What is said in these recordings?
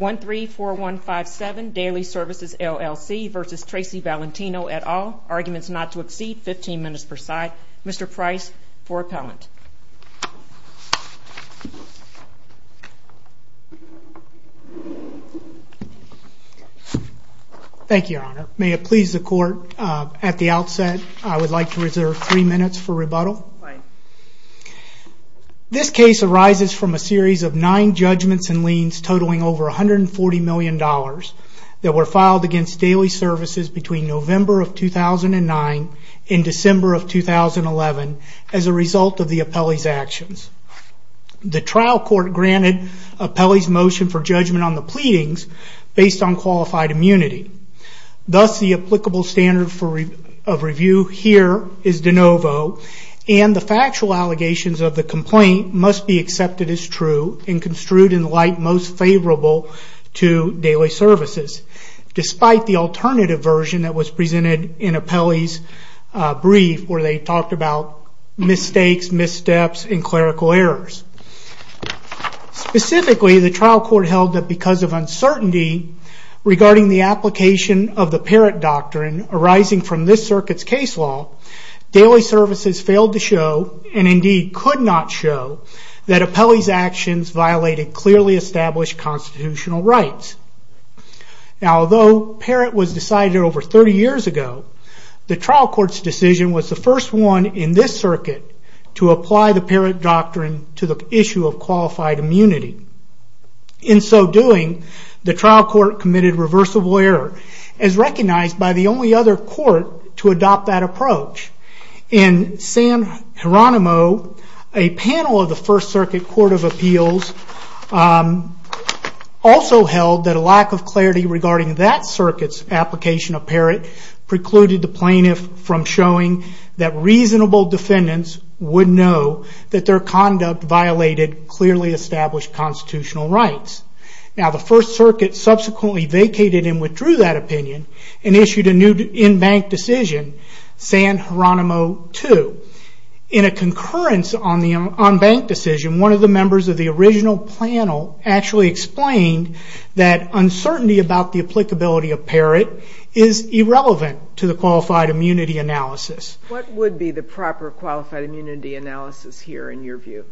1-3-4-1-5-7 Daily Services LLC v. Tracy Valentino et al. Arguments not to exceed 15 minutes per side. Mr. Price for appellant. Thank you, Your Honor. May it please the court, at the outset I would like to reserve three minutes for rebuttal. This case arises from a series of nine judgments and liens totaling over $140 million that were filed against Daily Services between November of 2009 and December of 2011 as a result of the appellee's actions. The trial court granted appellee's motion for judgment on the pleadings based on the factual allegations of the complaint must be accepted as true and construed in the light most favorable to Daily Services, despite the alternative version that was presented in appellee's brief where they talked about mistakes, missteps, and clerical errors. Specifically, the trial court held that because of uncertainty regarding the application of the parent doctrine arising from this circuit's case law, Daily Services failed to show and indeed could not show that appellee's actions violated clearly established constitutional rights. Although parent was decided over 30 years ago, the trial court committed reversible error as recognized by the only other court to adopt that approach. In San Geronimo, a panel of the First Circuit Court of Appeals also held that a lack of clarity regarding that circuit's application of parent precluded the plaintiff from showing that reasonable defendants would know that their conduct violated clearly established constitutional rights. Now the First Circuit subsequently vacated and withdrew that opinion and issued a new in-bank decision, San Geronimo 2. In a concurrence on bank decision, one of the members of the original panel actually explained that uncertainty about the applicability of parent is irrelevant to the qualified immunity analysis. What would be the proper qualified immunity analysis here in your view?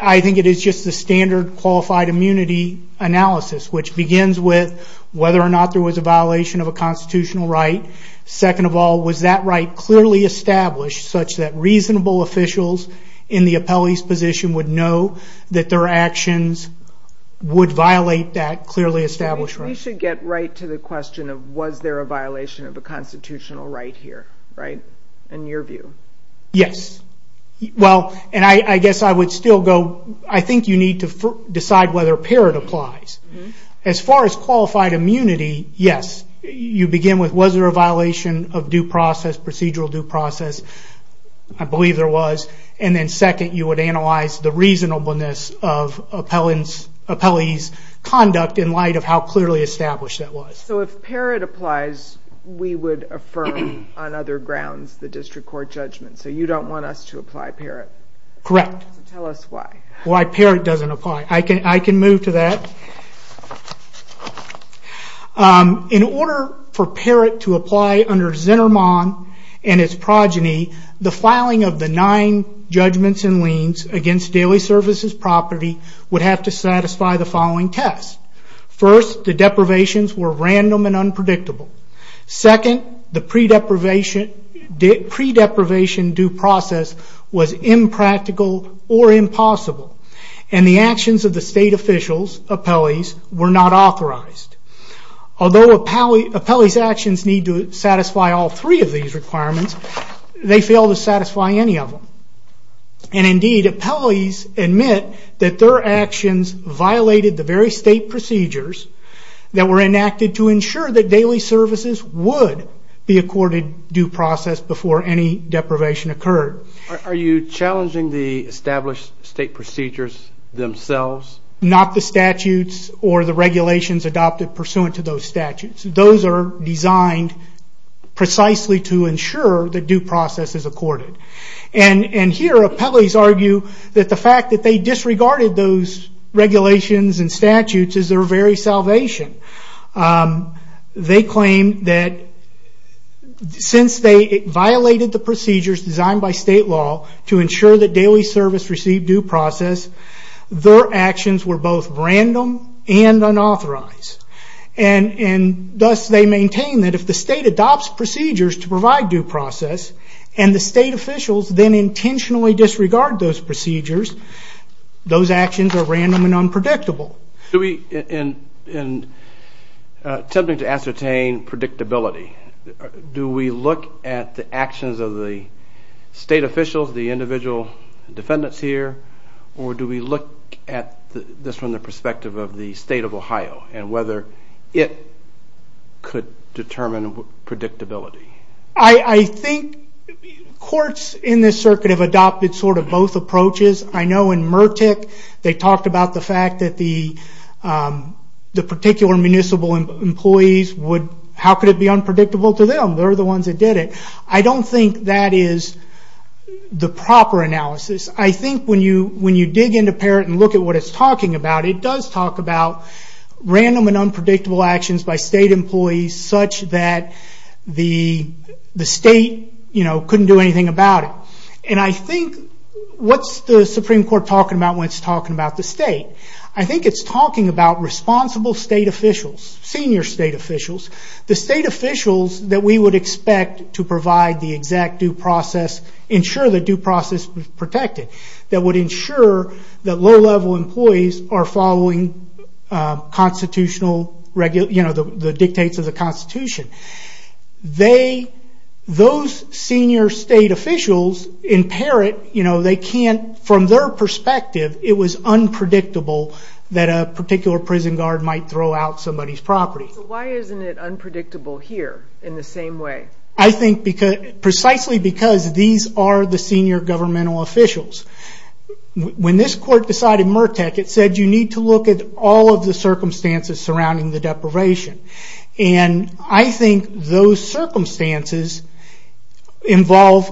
I think it is just the standard qualified immunity analysis, which begins with whether or not there was a violation of a constitutional right. Second of all, was that right clearly established such that reasonable officials in the appellee's position would know that their actions would violate that clearly established right? We should get right to the question of was there a violation of a constitutional right here in your view? Yes. I think you need to decide whether parent applies. As far as qualified immunity, yes. You begin with was there a violation of a procedural due process? I believe there was. Then second, you would analyze the reasonableness of appellee's conduct in light of how clearly established that was. If parent applies, we would affirm on other grounds the district court judgment. You don't want us to apply parent? Correct. Tell us why. Why parent doesn't apply. I can move to that. In order for parent to apply under Zinnerman and its progeny, the filing of the nine judgments and liens against daily services property would have to satisfy the following tests. First, the deprivations were random and unpredictable. Second, the pre-deprivation due process was impractical or impossible. The actions of the state officials, appellees, were not authorized. Although appellee's actions need to satisfy all three of these requirements, they fail to satisfy any of them. Indeed, appellees admit that their services would be accorded due process before any deprivation occurred. Are you challenging the established state procedures themselves? Not the statutes or the regulations adopted pursuant to those statutes. Those are designed precisely to ensure that due process is accorded. Here, appellees argue that the fact that they disregarded those regulations and statutes is their very salvation. They claim that since they violated the procedures designed by state law to ensure that daily service received due process, their actions were both random and unauthorized. Thus, they maintain that if the state adopts procedures to provide due process and the state officials then intentionally disregard those procedures, those actions are random and unpredictable. In attempting to ascertain predictability, do we look at the actions of the state officials, the individual defendants here, or do we look at this from the perspective of the state of Ohio and whether it could determine predictability? I think courts in this circuit have adopted both approaches. I know in Murtick, they talked about the fact that the particular municipal employees, how could it be unpredictable to them? They're the ones that did it. I don't think that is the proper analysis. I think when you dig into PARROT and look at what it's talking about, it does talk about random and unpredictable actions by state employees such that the state couldn't do anything about it. I think what's the Supreme Court talking about when it's talking about the state? I think it's talking about responsible state officials, senior state officials, the state officials that we would expect to provide the exact due process, ensure the due process is protected, that would ensure that low level employees are following the dictates of the Constitution. Those senior state officials in PARROT, from their perspective, it was unpredictable that a particular prison guard might throw out somebody's property. Why isn't it unpredictable here in the same way? Precisely because these are the senior governmental officials. When this court decided Murtick, it said you need to look at all of the circumstances surrounding the deprivation. I think those circumstances involve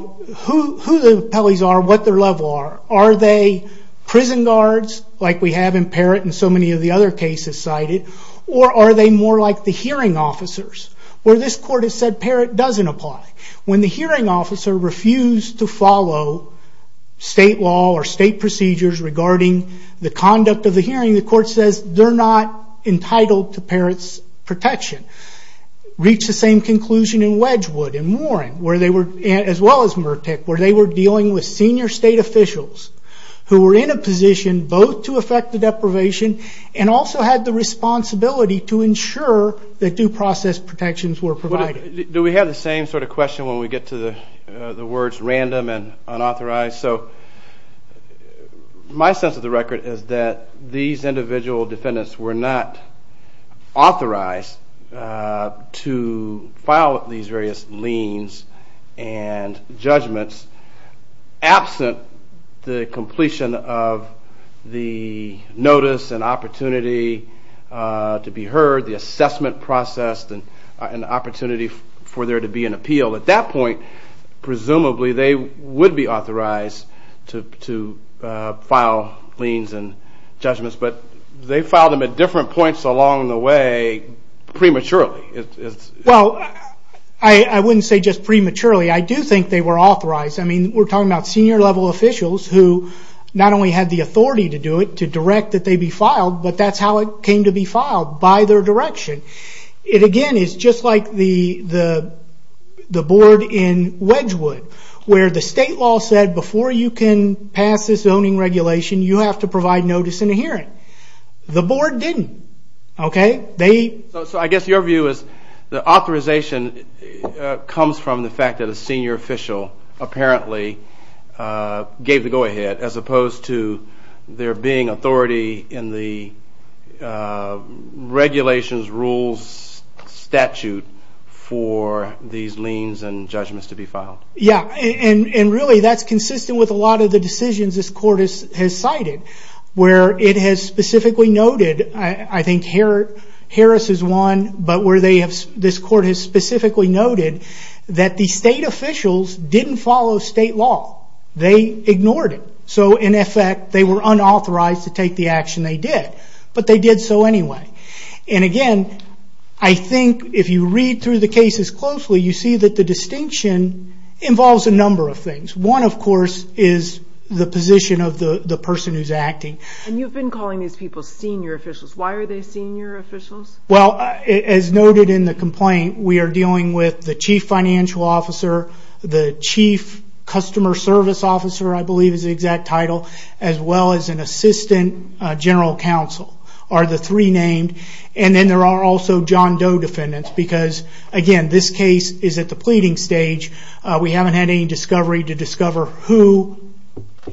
who the appellees are, what their level are. Are they prison guards like we have in PARROT and so many of the other cases cited, or are they more like the hearing officers? Where this court has said PARROT doesn't apply. When the hearing officer refused to follow state law or state procedures regarding the conduct of the hearing, the court says they're not entitled to PARROT's protection. Reached the same conclusion in Wedgwood and Warren, as well as Murtick, where they were dealing with senior state officials who were in a position both to affect the deprivation and also had the responsibility to ensure that due process protections were provided. Do we have the same sort of question when we get to the words random and unauthorized? My sense of the record is that these individual defendants were not authorized to file these various liens and judgments absent the completion of the notice and opportunity to be heard, the assessment process and opportunity for there to be an appeal. At that point, presumably they would be authorized to file liens and judgments, but they filed them at different points along the way prematurely. I wouldn't say just prematurely. I do think they were authorized. We're talking about senior level officials who not only had the authority to do it, to direct that they be filed, but that's how it came to be filed, by their direction. It again is just like the board in Wedgwood, where the state law said before you can pass this zoning regulation, you have to provide notice in a hearing. The board didn't. I guess your view is the authorization comes from the fact that a senior official apparently gave the go ahead as opposed to there being authority in the regulations, rules, statute for these liens and judgments to be filed. Really, that's consistent with a lot of the decisions this court has cited, where it has specifically noted. I think Harris is one, but where this court has specifically noted that the state officials didn't follow state law. They ignored it. In effect, they were unauthorized to take the action they did, but they did so anyway. Again, I think if you read through the cases closely, you see that the distinction involves a number of things. One, of course, is the position of the person who's acting. You've been calling these people senior officials. Why are they senior officials? As noted in the complaint, we are dealing with the chief financial officer, the chief customer service officer, I believe is the exact title, as well as an assistant general counsel are the three named. Then there are also John Doe defendants because, again, this case is at the pleading stage. We haven't had any discovery to discover who,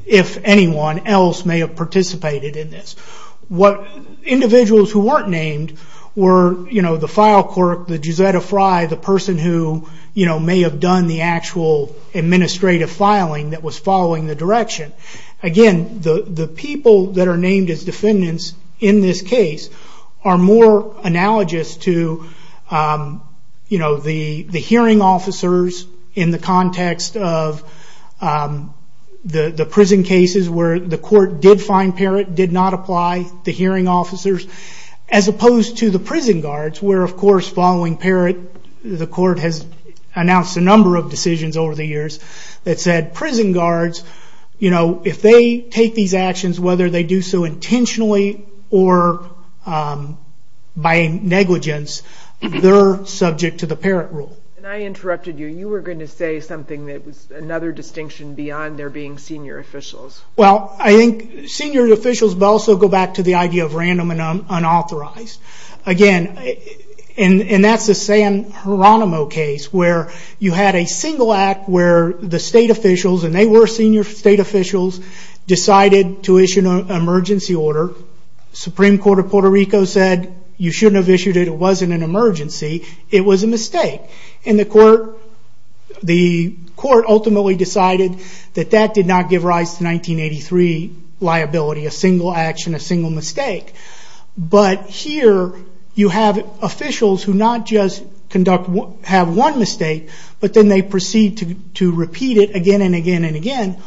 if anyone else, may have participated in this. Individuals who weren't named were the file clerk, the Josetta Fry, the person who may have done the actual administrative filing that was following the direction. Again, the people that are named as defendants in this case are more analogous to the hearing officers in the context of the prison cases, where the court did find Parrott, did not apply the hearing officers, as opposed to the prison guards, where, of course, following Parrott, the court has announced a number of decisions over the years that said, prison guards, if they take these actions, whether they do so intentionally or by negligence, they're subject to the Parrott rule. I interrupted you. You were going to say something that was another distinction beyond there being senior officials. Well, I think senior officials also go back to the idea of random and unauthorized. Again, and that's the San Geronimo case, where you had a single act where the state officials, and they were senior state officials, decided to issue an emergency order. Supreme Court of Puerto Rico said, you shouldn't have issued it, it wasn't an emergency, it was a mistake. The court ultimately decided that that did not give rise to 1983 liability, a single action, a single mistake. Here, you have officials who not just have one mistake, but then they proceed to repeat it again and again and again.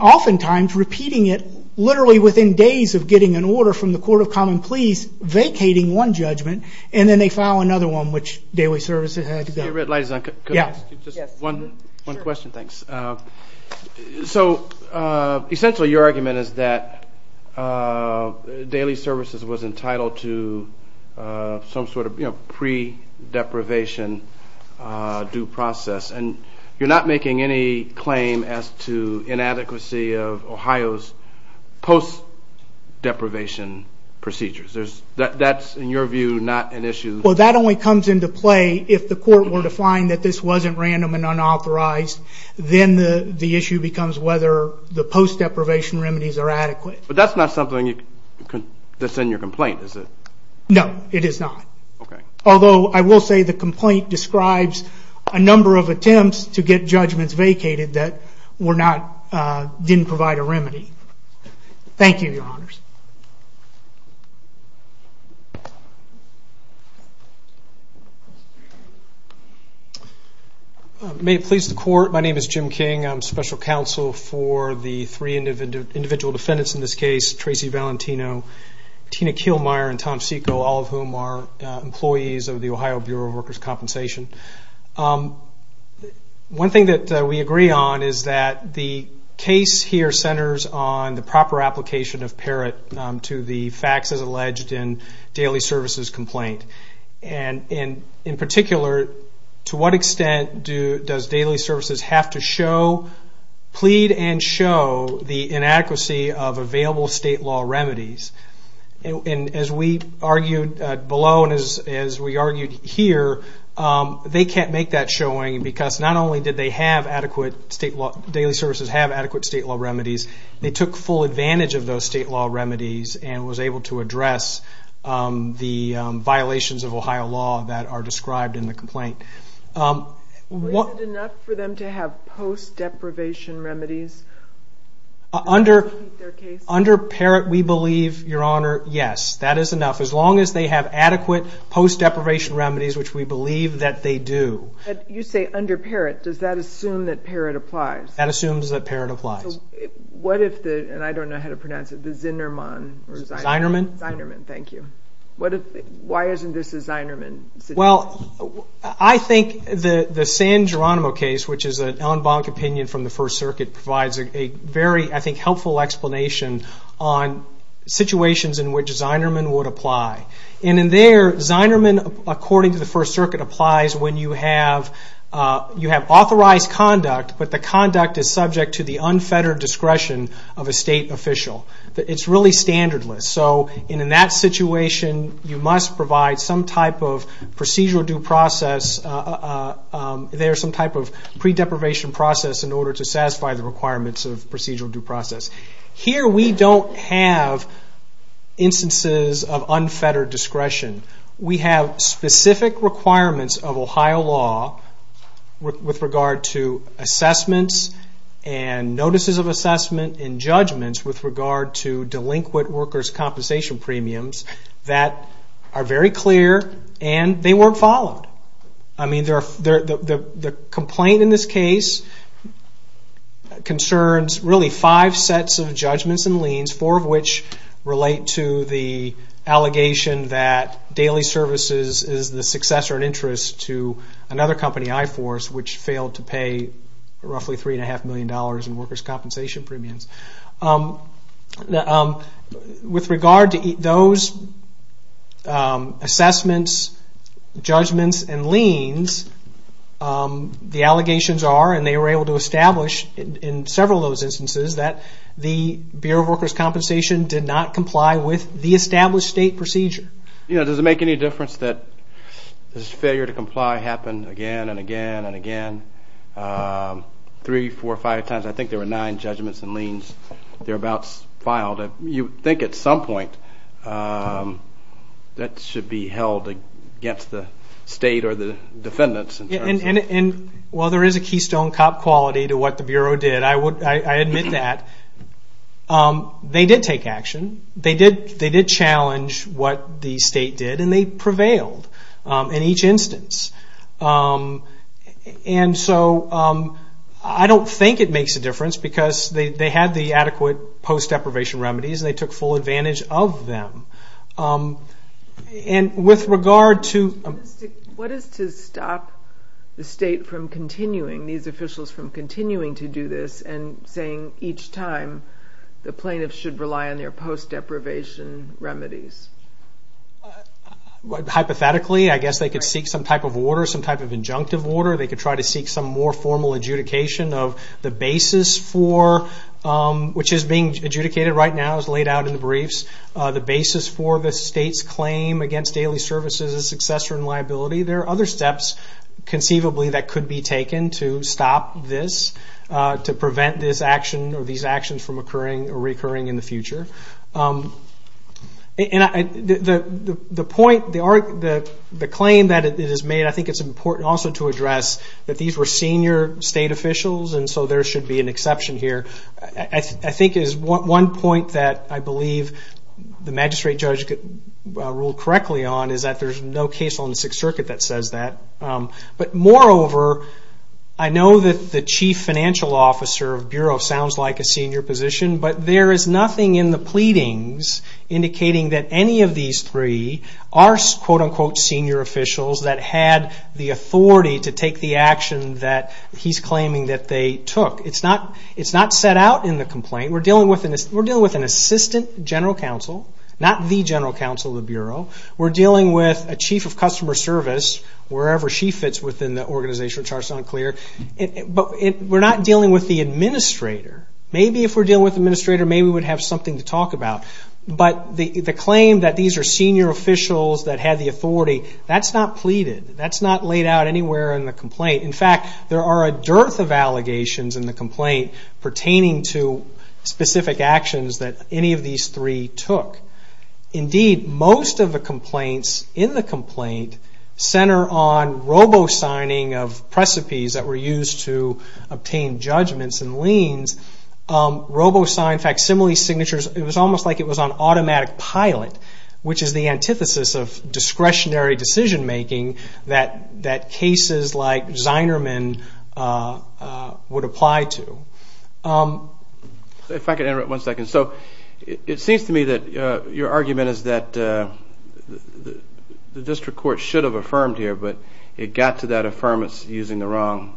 Oftentimes, repeating it literally within days of getting an order from the Court of Common Pleas, vacating one judgment, and then they file another one, which daily services had to go. Just one question, thanks. So essentially, your argument is that daily services was entitled to some sort of pre-deprivation due process, and you're not making any claim as to inadequacy of Ohio's post-deprivation procedures. That's, in your view, not an issue? Well, that only comes into play if the court were to find that this wasn't random and unauthorized. Then the issue becomes whether the post-deprivation remedies are adequate. But that's not something that's in your complaint, is it? No, it is not. Although, I will say the complaint describes a number of attempts to get judgments vacated that didn't provide a remedy. Thank you, Your Honors. May it please the Court, my name is Jim King. I'm special counsel for the three individual defendants in this case, Tracy Valentino, Tina Kielmeyer, and Tom Seiko, all of whom are employees of the Ohio Bureau of Workers' Compensation. One thing that we agree on is that the case here centers on the proper application of PERIT to the facts as alleged in daily services complaint. In particular, to what extent does daily services have to show, plead and show, the inadequacy of available state law remedies? As we argued below and as we argued here, they can't make that showing because not only did they have adequate state law, daily services have adequate state law remedies, they took full advantage of those state law remedies and was able to address the violations of Ohio law that are described in the complaint. Was it enough for them to have post-deprivation remedies? Under PERIT, we believe, Your Honor, yes, that is enough. As long as they have adequate post-deprivation remedies, which we believe that they do. You say under PERIT, does that assume that PERIT applies? That assumes that PERIT applies. What if the, and I don't know how to pronounce it, the Zinerman? Zinerman. Zinerman, thank you. Why isn't this a Zinerman? Well, I think the San Geronimo case, which is an en banc opinion from the First Circuit, provides a very, I think, helpful explanation on situations in which Zinerman would apply. And in there, Zinerman, according to the First Circuit, applies when you have authorized conduct, but the conduct is subject to the unfettered discretion of a state official. It's really standardless. So in that situation, you must provide some type of procedural due process. There's some type of pre-deprivation process in order to satisfy the requirements of procedural due process. Here we don't have instances of unfettered discretion. We have specific requirements of Ohio law with regard to assessments and notices of assessment and judgments with regard to delinquent workers' compensation premiums that are very clear and they weren't followed. I mean, the complaint in this case concerns really five sets of judgments and liens, four of which relate to the allegation that daily services is the successor in interest to another company, I-Force, which failed to pay roughly $3.5 million in workers' compensation premiums. With regard to those assessments, judgments, and liens, the allegations are, and they were able to establish in several of those instances, that the Bureau of Workers' Compensation did not comply with the established state procedure. You know, does it make any difference that this failure to comply happened again and again and again, three, four, five times? I think there were nine judgments and liens. They're about filed. You'd think at some point that should be held against the state or the defendants. Well, there is a keystone cop quality to what the Bureau did. I admit that. They did take action. They did challenge what the state did, and they prevailed in each instance. And so I don't think it makes a difference because they had the adequate post-deprivation remedies and they took full advantage of them. And with regard to- What is to stop the state from continuing, these officials from continuing to do this, and saying each time the plaintiffs should rely on their post-deprivation remedies? Hypothetically, I guess they could seek some type of order, some type of injunctive order. They could try to seek some more formal adjudication of the basis for, which is being adjudicated right now, as laid out in the briefs, the basis for the state's claim against daily services as successor in liability. There are other steps conceivably that could be taken to stop this, to prevent this action or these actions from occurring or recurring in the future. And the point, the claim that is made, I think it's important also to address, that these were senior state officials, and so there should be an exception here. I think it is one point that I believe the magistrate judge could rule correctly on, is that there's no case on the Sixth Circuit that says that. But moreover, I know that the chief financial officer of Bureau sounds like a senior position, but there is nothing in the pleadings indicating that any of these three are, quote-unquote, senior officials that had the authority to take the action that he's claiming that they took. It's not set out in the complaint. We're dealing with an assistant general counsel, not the general counsel of the Bureau. We're dealing with a chief of customer service, wherever she fits within the organization, which are sound clear. But we're not dealing with the administrator. Maybe if we're dealing with the administrator, maybe we would have something to talk about. But the claim that these are senior officials that had the authority, that's not pleaded. That's not laid out anywhere in the complaint. In fact, there are a dearth of allegations in the complaint pertaining to specific actions that any of these three took. Indeed, most of the complaints in the complaint center on robo-signing of precipice that were used to obtain judgments and liens. Robo-sign facsimile signatures, it was almost like it was on automatic pilot, which is the antithesis of discretionary decision-making that cases like Zinerman would apply to. If I could interrupt one second. So it seems to me that your argument is that the district court should have affirmed here, but it got to that affirmance using the wrong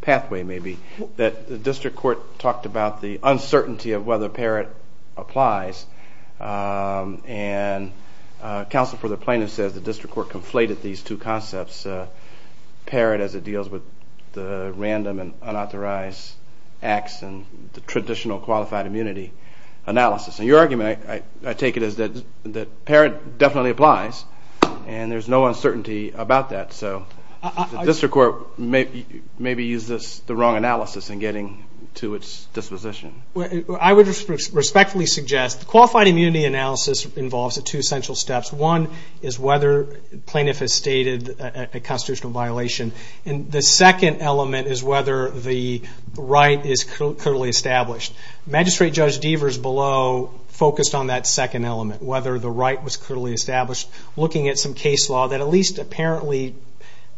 pathway, maybe, that the district court talked about the uncertainty of whether PARROT applies. And counsel for the plaintiff says the district court conflated these two concepts, PARROT as it deals with the random and unauthorized acts and the traditional qualified immunity analysis. And your argument, I take it, is that PARROT definitely applies, and there's no uncertainty about that. So the district court maybe used the wrong analysis in getting to its disposition. I would respectfully suggest the qualified immunity analysis involves two essential steps. One is whether the plaintiff has stated a constitutional violation, and the second element is whether the right is clearly established. Magistrate Judge Devers below focused on that second element, whether the right was clearly established, looking at some case law that at least apparently,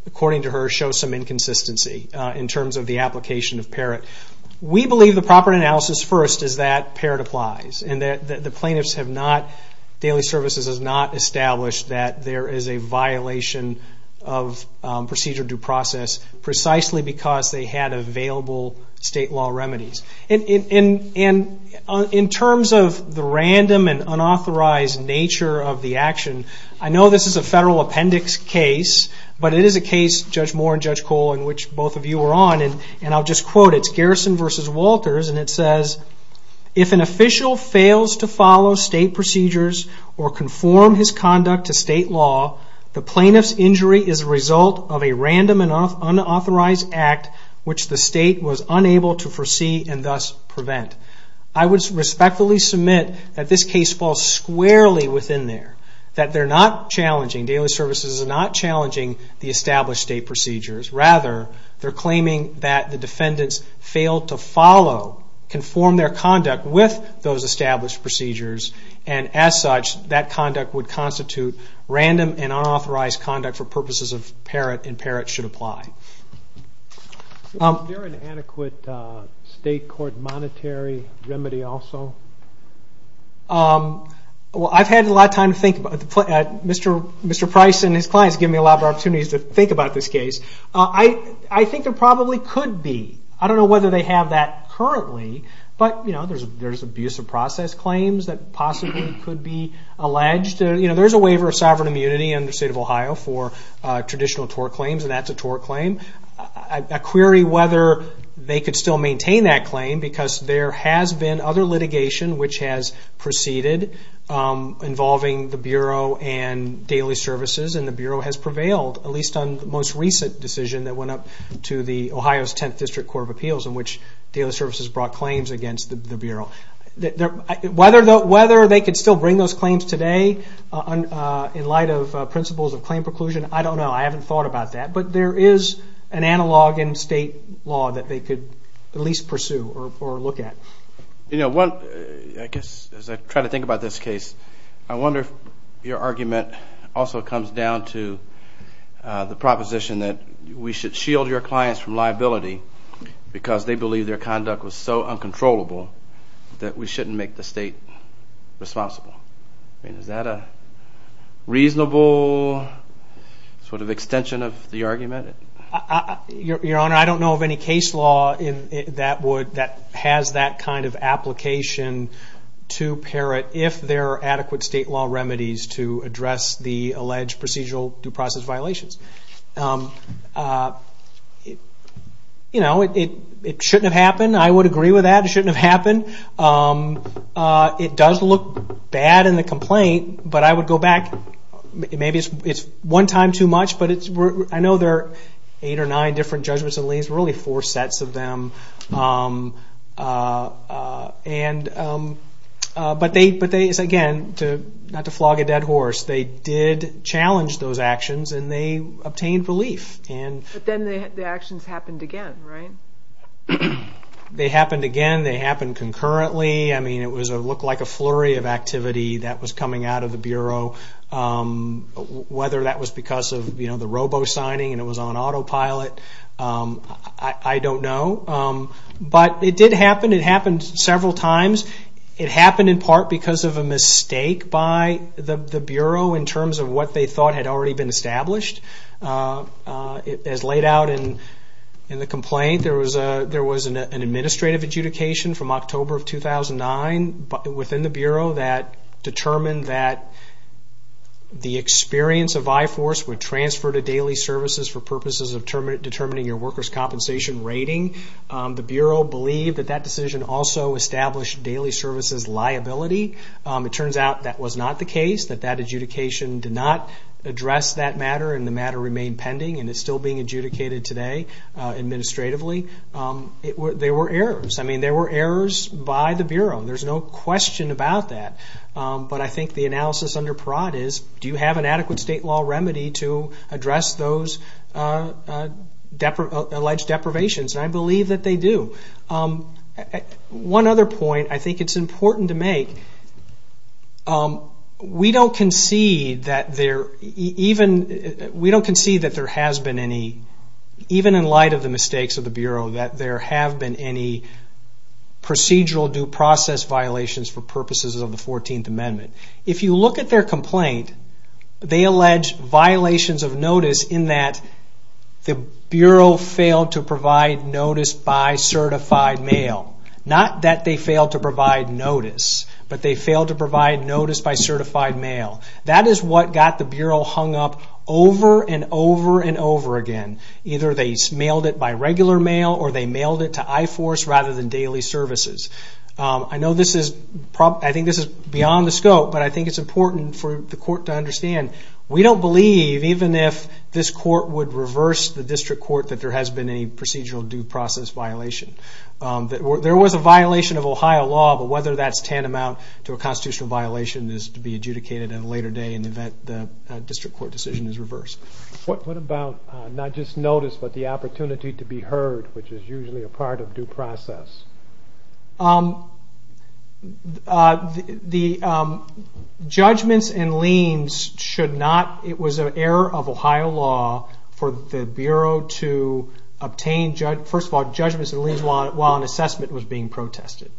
according to her, shows some inconsistency in terms of the application of PARROT. We believe the proper analysis first is that PARROT applies, and the plaintiff's Daily Services has not established that there is a violation of procedure due process, precisely because they had available state law remedies. In terms of the random and unauthorized nature of the action, I know this is a federal appendix case, but it is a case, Judge Moore and Judge Cole, in which both of you were on, and I'll just quote, it's Garrison v. Walters, and it says, if an official fails to follow state procedures or conform his conduct to state law, the plaintiff's injury is a result of a random and unauthorized act, which the state was unable to foresee and thus prevent. I would respectfully submit that this case falls squarely within there, that they're not challenging, Daily Services is not challenging the established state procedures. Rather, they're claiming that the defendants failed to follow, conform their conduct with those established procedures, and as such, that conduct would constitute random and unauthorized conduct for purposes of PARROT, and PARROT should apply. Is there an adequate state court monetary remedy also? Well, I've had a lot of time to think about it. Mr. Price and his clients have given me a lot of opportunities to think about this case. I think there probably could be. I don't know whether they have that currently, but there's abuse of process claims that possibly could be alleged. There's a waiver of sovereign immunity under the state of Ohio for traditional tort claims, and that's a tort claim. I query whether they could still maintain that claim, because there has been other litigation which has proceeded involving the Bureau and Daily Services, and the Bureau has prevailed, at least on the most recent decision that went up to the Ohio's 10th District Court of Appeals, in which Daily Services brought claims against the Bureau. Whether they could still bring those claims today in light of principles of claim preclusion, I don't know. I haven't thought about that, but there is an analog in state law that they could at least pursue or look at. You know, I guess as I try to think about this case, I wonder if your argument also comes down to the proposition that we should shield your clients from liability because they believe their conduct was so uncontrollable that we shouldn't make the state responsible. Is that a reasonable sort of extension of the argument? Your Honor, I don't know of any case law that has that kind of application to parrot if there are adequate state law remedies to address the alleged procedural due process violations. You know, it shouldn't have happened. I would agree with that. It shouldn't have happened. It does look bad in the complaint, but I would go back. Maybe it's one time too much, but I know there are eight or nine different judgments and liens, really four sets of them. But again, not to flog a dead horse, they did challenge those actions and they obtained relief. But then the actions happened again, right? They happened again. They happened concurrently. I mean, it looked like a flurry of activity that was coming out of the Bureau, whether that was because of the robo-signing and it was on autopilot, I don't know. But it did happen. It happened several times. It happened in part because of a mistake by the Bureau in terms of what they thought had already been established. As laid out in the complaint, there was an administrative adjudication from October of 2009 within the Bureau that determined that the experience of I-Force would transfer to daily services for purposes of determining your workers' compensation rating. The Bureau believed that that decision also established daily services liability. It turns out that was not the case, that that adjudication did not address that matter and the matter remained pending and is still being adjudicated today administratively. There were errors. I mean, there were errors by the Bureau. There's no question about that. But I think the analysis under Parade is, do you have an adequate state law remedy to address those alleged deprivations? And I believe that they do. One other point I think it's important to make, we don't concede that there has been any, even in light of the mistakes of the Bureau, that there have been any procedural due process violations for purposes of the 14th Amendment. If you look at their complaint, they allege violations of notice in that the Bureau failed to provide notice by certified mail. Not that they failed to provide notice, but they failed to provide notice by certified mail. That is what got the Bureau hung up over and over and over again. Either they mailed it by regular mail or they mailed it to I-Force rather than daily services. I know this is, I think this is beyond the scope, but I think it's important for the court to understand we don't believe, even if this court would reverse the district court, that there has been any procedural due process violation. There was a violation of Ohio law, but whether that's tantamount to a constitutional violation is to be adjudicated in a later day in the event the district court decision is reversed. What about not just notice, but the opportunity to be heard, which is usually a part of due process? The judgments and liens should not, it was an error of Ohio law for the Bureau to obtain, first of all, judgments and liens while an assessment was being protested.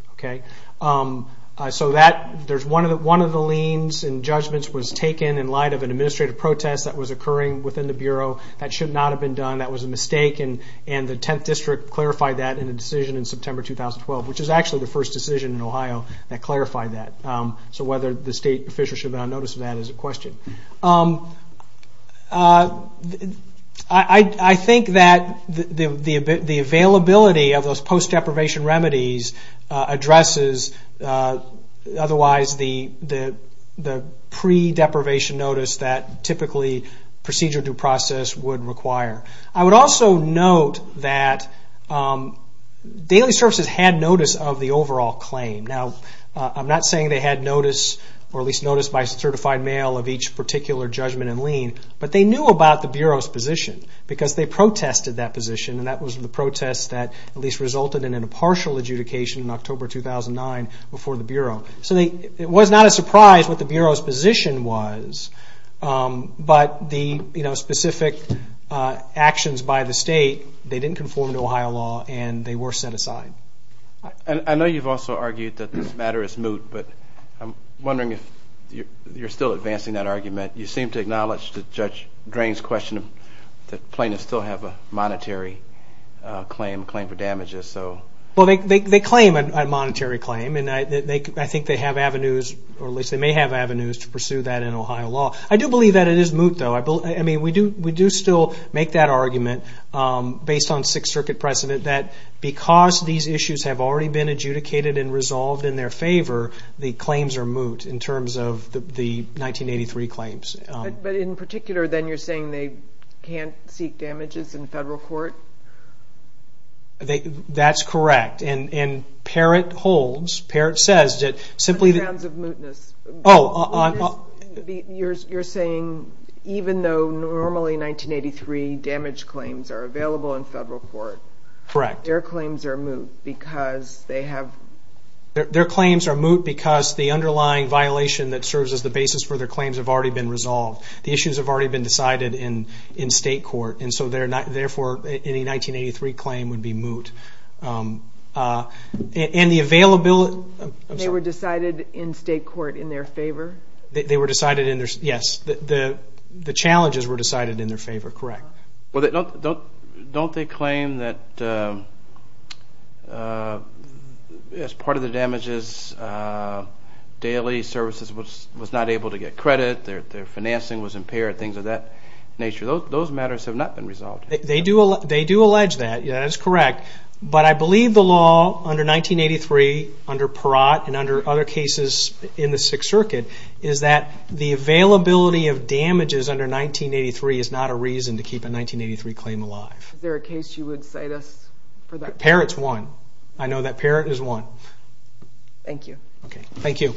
One of the liens and judgments was taken in light of an administrative protest that was occurring within the Bureau. That should not have been done. That was a mistake and the 10th District clarified that in a decision in September 2012, which is actually the first decision in Ohio that clarified that. So whether the state officials should have been on notice of that is a question. I think that the availability of those post-deprivation remedies addresses otherwise the pre-deprivation notice that typically procedural due process would require. I would also note that daily services had notice of the overall claim. Now, I'm not saying they had notice, or at least notice by certified mail of each particular judgment and lien, but they knew about the Bureau's position because they protested that position and that was the protest that at least resulted in a partial adjudication in October 2009 before the Bureau. So it was not a surprise what the Bureau's position was, but the specific actions by the state, they didn't conform to Ohio law and they were set aside. I know you've also argued that this matter is moot, but I'm wondering if you're still advancing that argument. You seem to acknowledge that Judge Drain's question that plaintiffs still have a monetary claim, claim for damages. Well, they claim a monetary claim and I think they have avenues, or at least they may have avenues to pursue that in Ohio law. I do believe that it is moot, though. We do still make that argument based on Sixth Circuit precedent that because these issues have already been adjudicated and resolved in their favor, the claims are moot in terms of the 1983 claims. But in particular, then you're saying they can't seek damages in federal court? That's correct, and Parrott holds, Parrott says that simply... In terms of mootness. You're saying even though normally 1983 damage claims are available in federal court, their claims are moot because they have... Their claims are moot because the underlying violation that serves as the basis for their claims have already been resolved. The issues have already been decided in state court, and so therefore any 1983 claim would be moot. And the availability... They were decided in state court in their favor? Yes, the challenges were decided in their favor, correct. Don't they claim that as part of the damages, Daley Services was not able to get credit, their financing was impaired, things of that nature. Those matters have not been resolved. They do allege that, that is correct. But I believe the law under 1983, under Parrott, and under other cases in the Sixth Circuit, is that the availability of damages under 1983 is not a reason to keep a 1983 claim alive. Is there a case you would cite us for that? Parrott's one. I know that Parrott is one. Thank you. Thank you.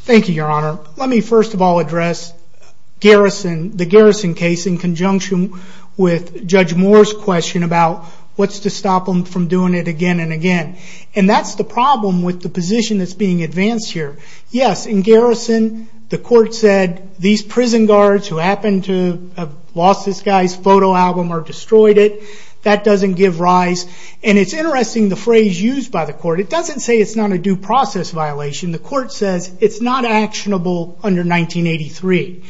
Thank you, Your Honor. Let me first of all address the Garrison case in conjunction with Judge Moore's question about what's to stop them from doing it again and again. And that's the problem with the position that's being advanced here. Yes, in Garrison, the court said, these prison guards who happened to have lost this guy's photo album or destroyed it, that doesn't give rise. And it's interesting the phrase used by the court. It doesn't say it's not a due process violation. The court says it's not actionable under 1983.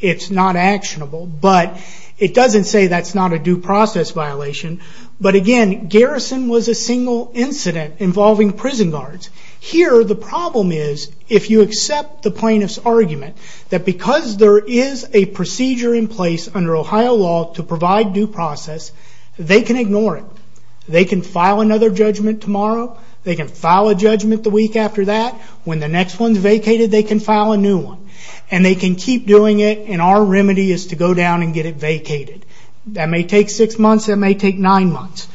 It's not actionable. But it doesn't say that's not a due process violation. But again, Garrison was a single incident involving prison guards. Here, the problem is if you accept the plaintiff's argument that because there is a procedure in place under Ohio law to provide due process, they can ignore it. They can file another judgment tomorrow. They can file a judgment the week after that. When the next one's vacated, they can file a new one. And they can keep doing it. And our remedy is to go down and get it vacated. That may take six months. That may take nine months.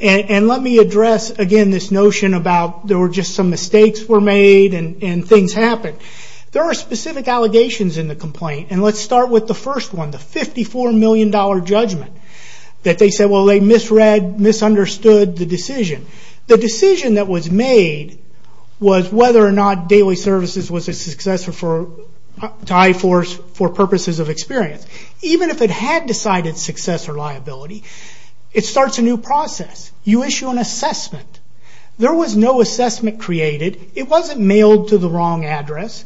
And let me address, again, this notion about there were just some mistakes were made and things happened. There are specific allegations in the complaint. And let's start with the first one, the $54 million judgment that they said, well, they misread, misunderstood the decision. The decision that was made was whether or not Daily Services was a successor to I-4s for purposes of experience. Even if it had decided successor liability, it starts a new process. You issue an assessment. There was no assessment created. It wasn't mailed to the wrong address.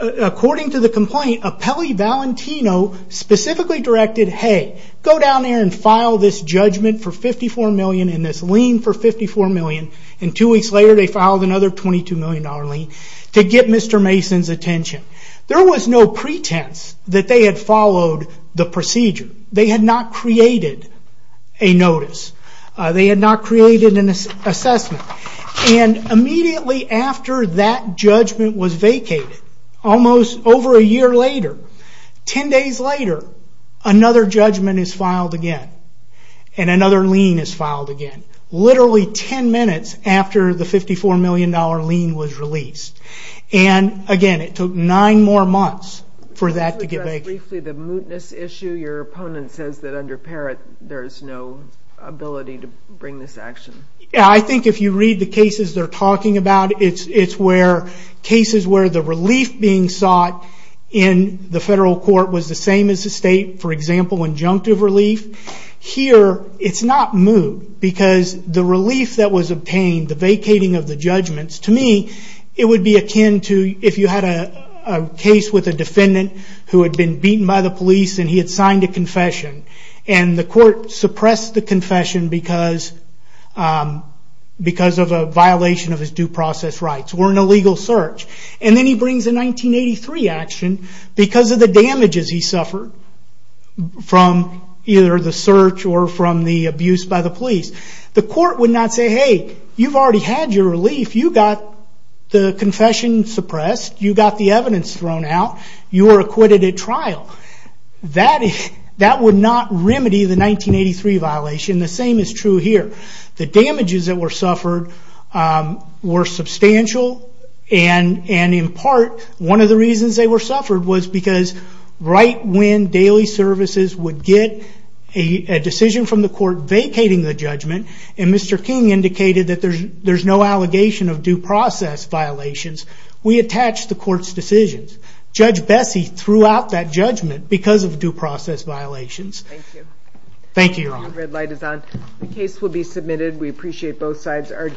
According to the complaint, Apelli Valentino specifically directed, hey, go down there and file this judgment for $54 million and this lien for $54 million. And two weeks later, they filed another $22 million lien to get Mr. Mason's attention. There was no pretense that they had followed the procedure. They had not created a notice. They had not created an assessment. And immediately after that judgment was vacated, almost over a year later, ten days later, another judgment is filed again. And another lien is filed again. Literally ten minutes after the $54 million lien was released. Again, it took nine more months for that to get vacated. Can you address briefly the mootness issue? Your opponent says that under Parrott, there's no ability to bring this action. I think if you read the cases they're talking about, it's cases where the relief being sought in the federal court was the same as the state, for example, injunctive relief. Here, it's not moot because the relief that was obtained, the vacating of the judgments, to me, it would be akin to if you had a case with a defendant who had been beaten by the police and he had signed a confession. And the court suppressed the confession because of a violation of his due process rights or an illegal search. And then he brings a 1983 action because of the damages he suffered from either the search or from the abuse by the police. The court would not say, hey, you've already had your relief. If you got the confession suppressed, you got the evidence thrown out, you were acquitted at trial. That would not remedy the 1983 violation. The same is true here. The damages that were suffered were substantial. And in part, one of the reasons they were suffered was because right when daily services would get a decision from the court vacating the judgment, and Mr. King indicated that there's no allegation of due process violations, we attach the court's decisions. Judge Bessie threw out that judgment because of due process violations. Thank you. Thank you, Your Honor. The red light is on. The case will be submitted. We appreciate both sides' arguments.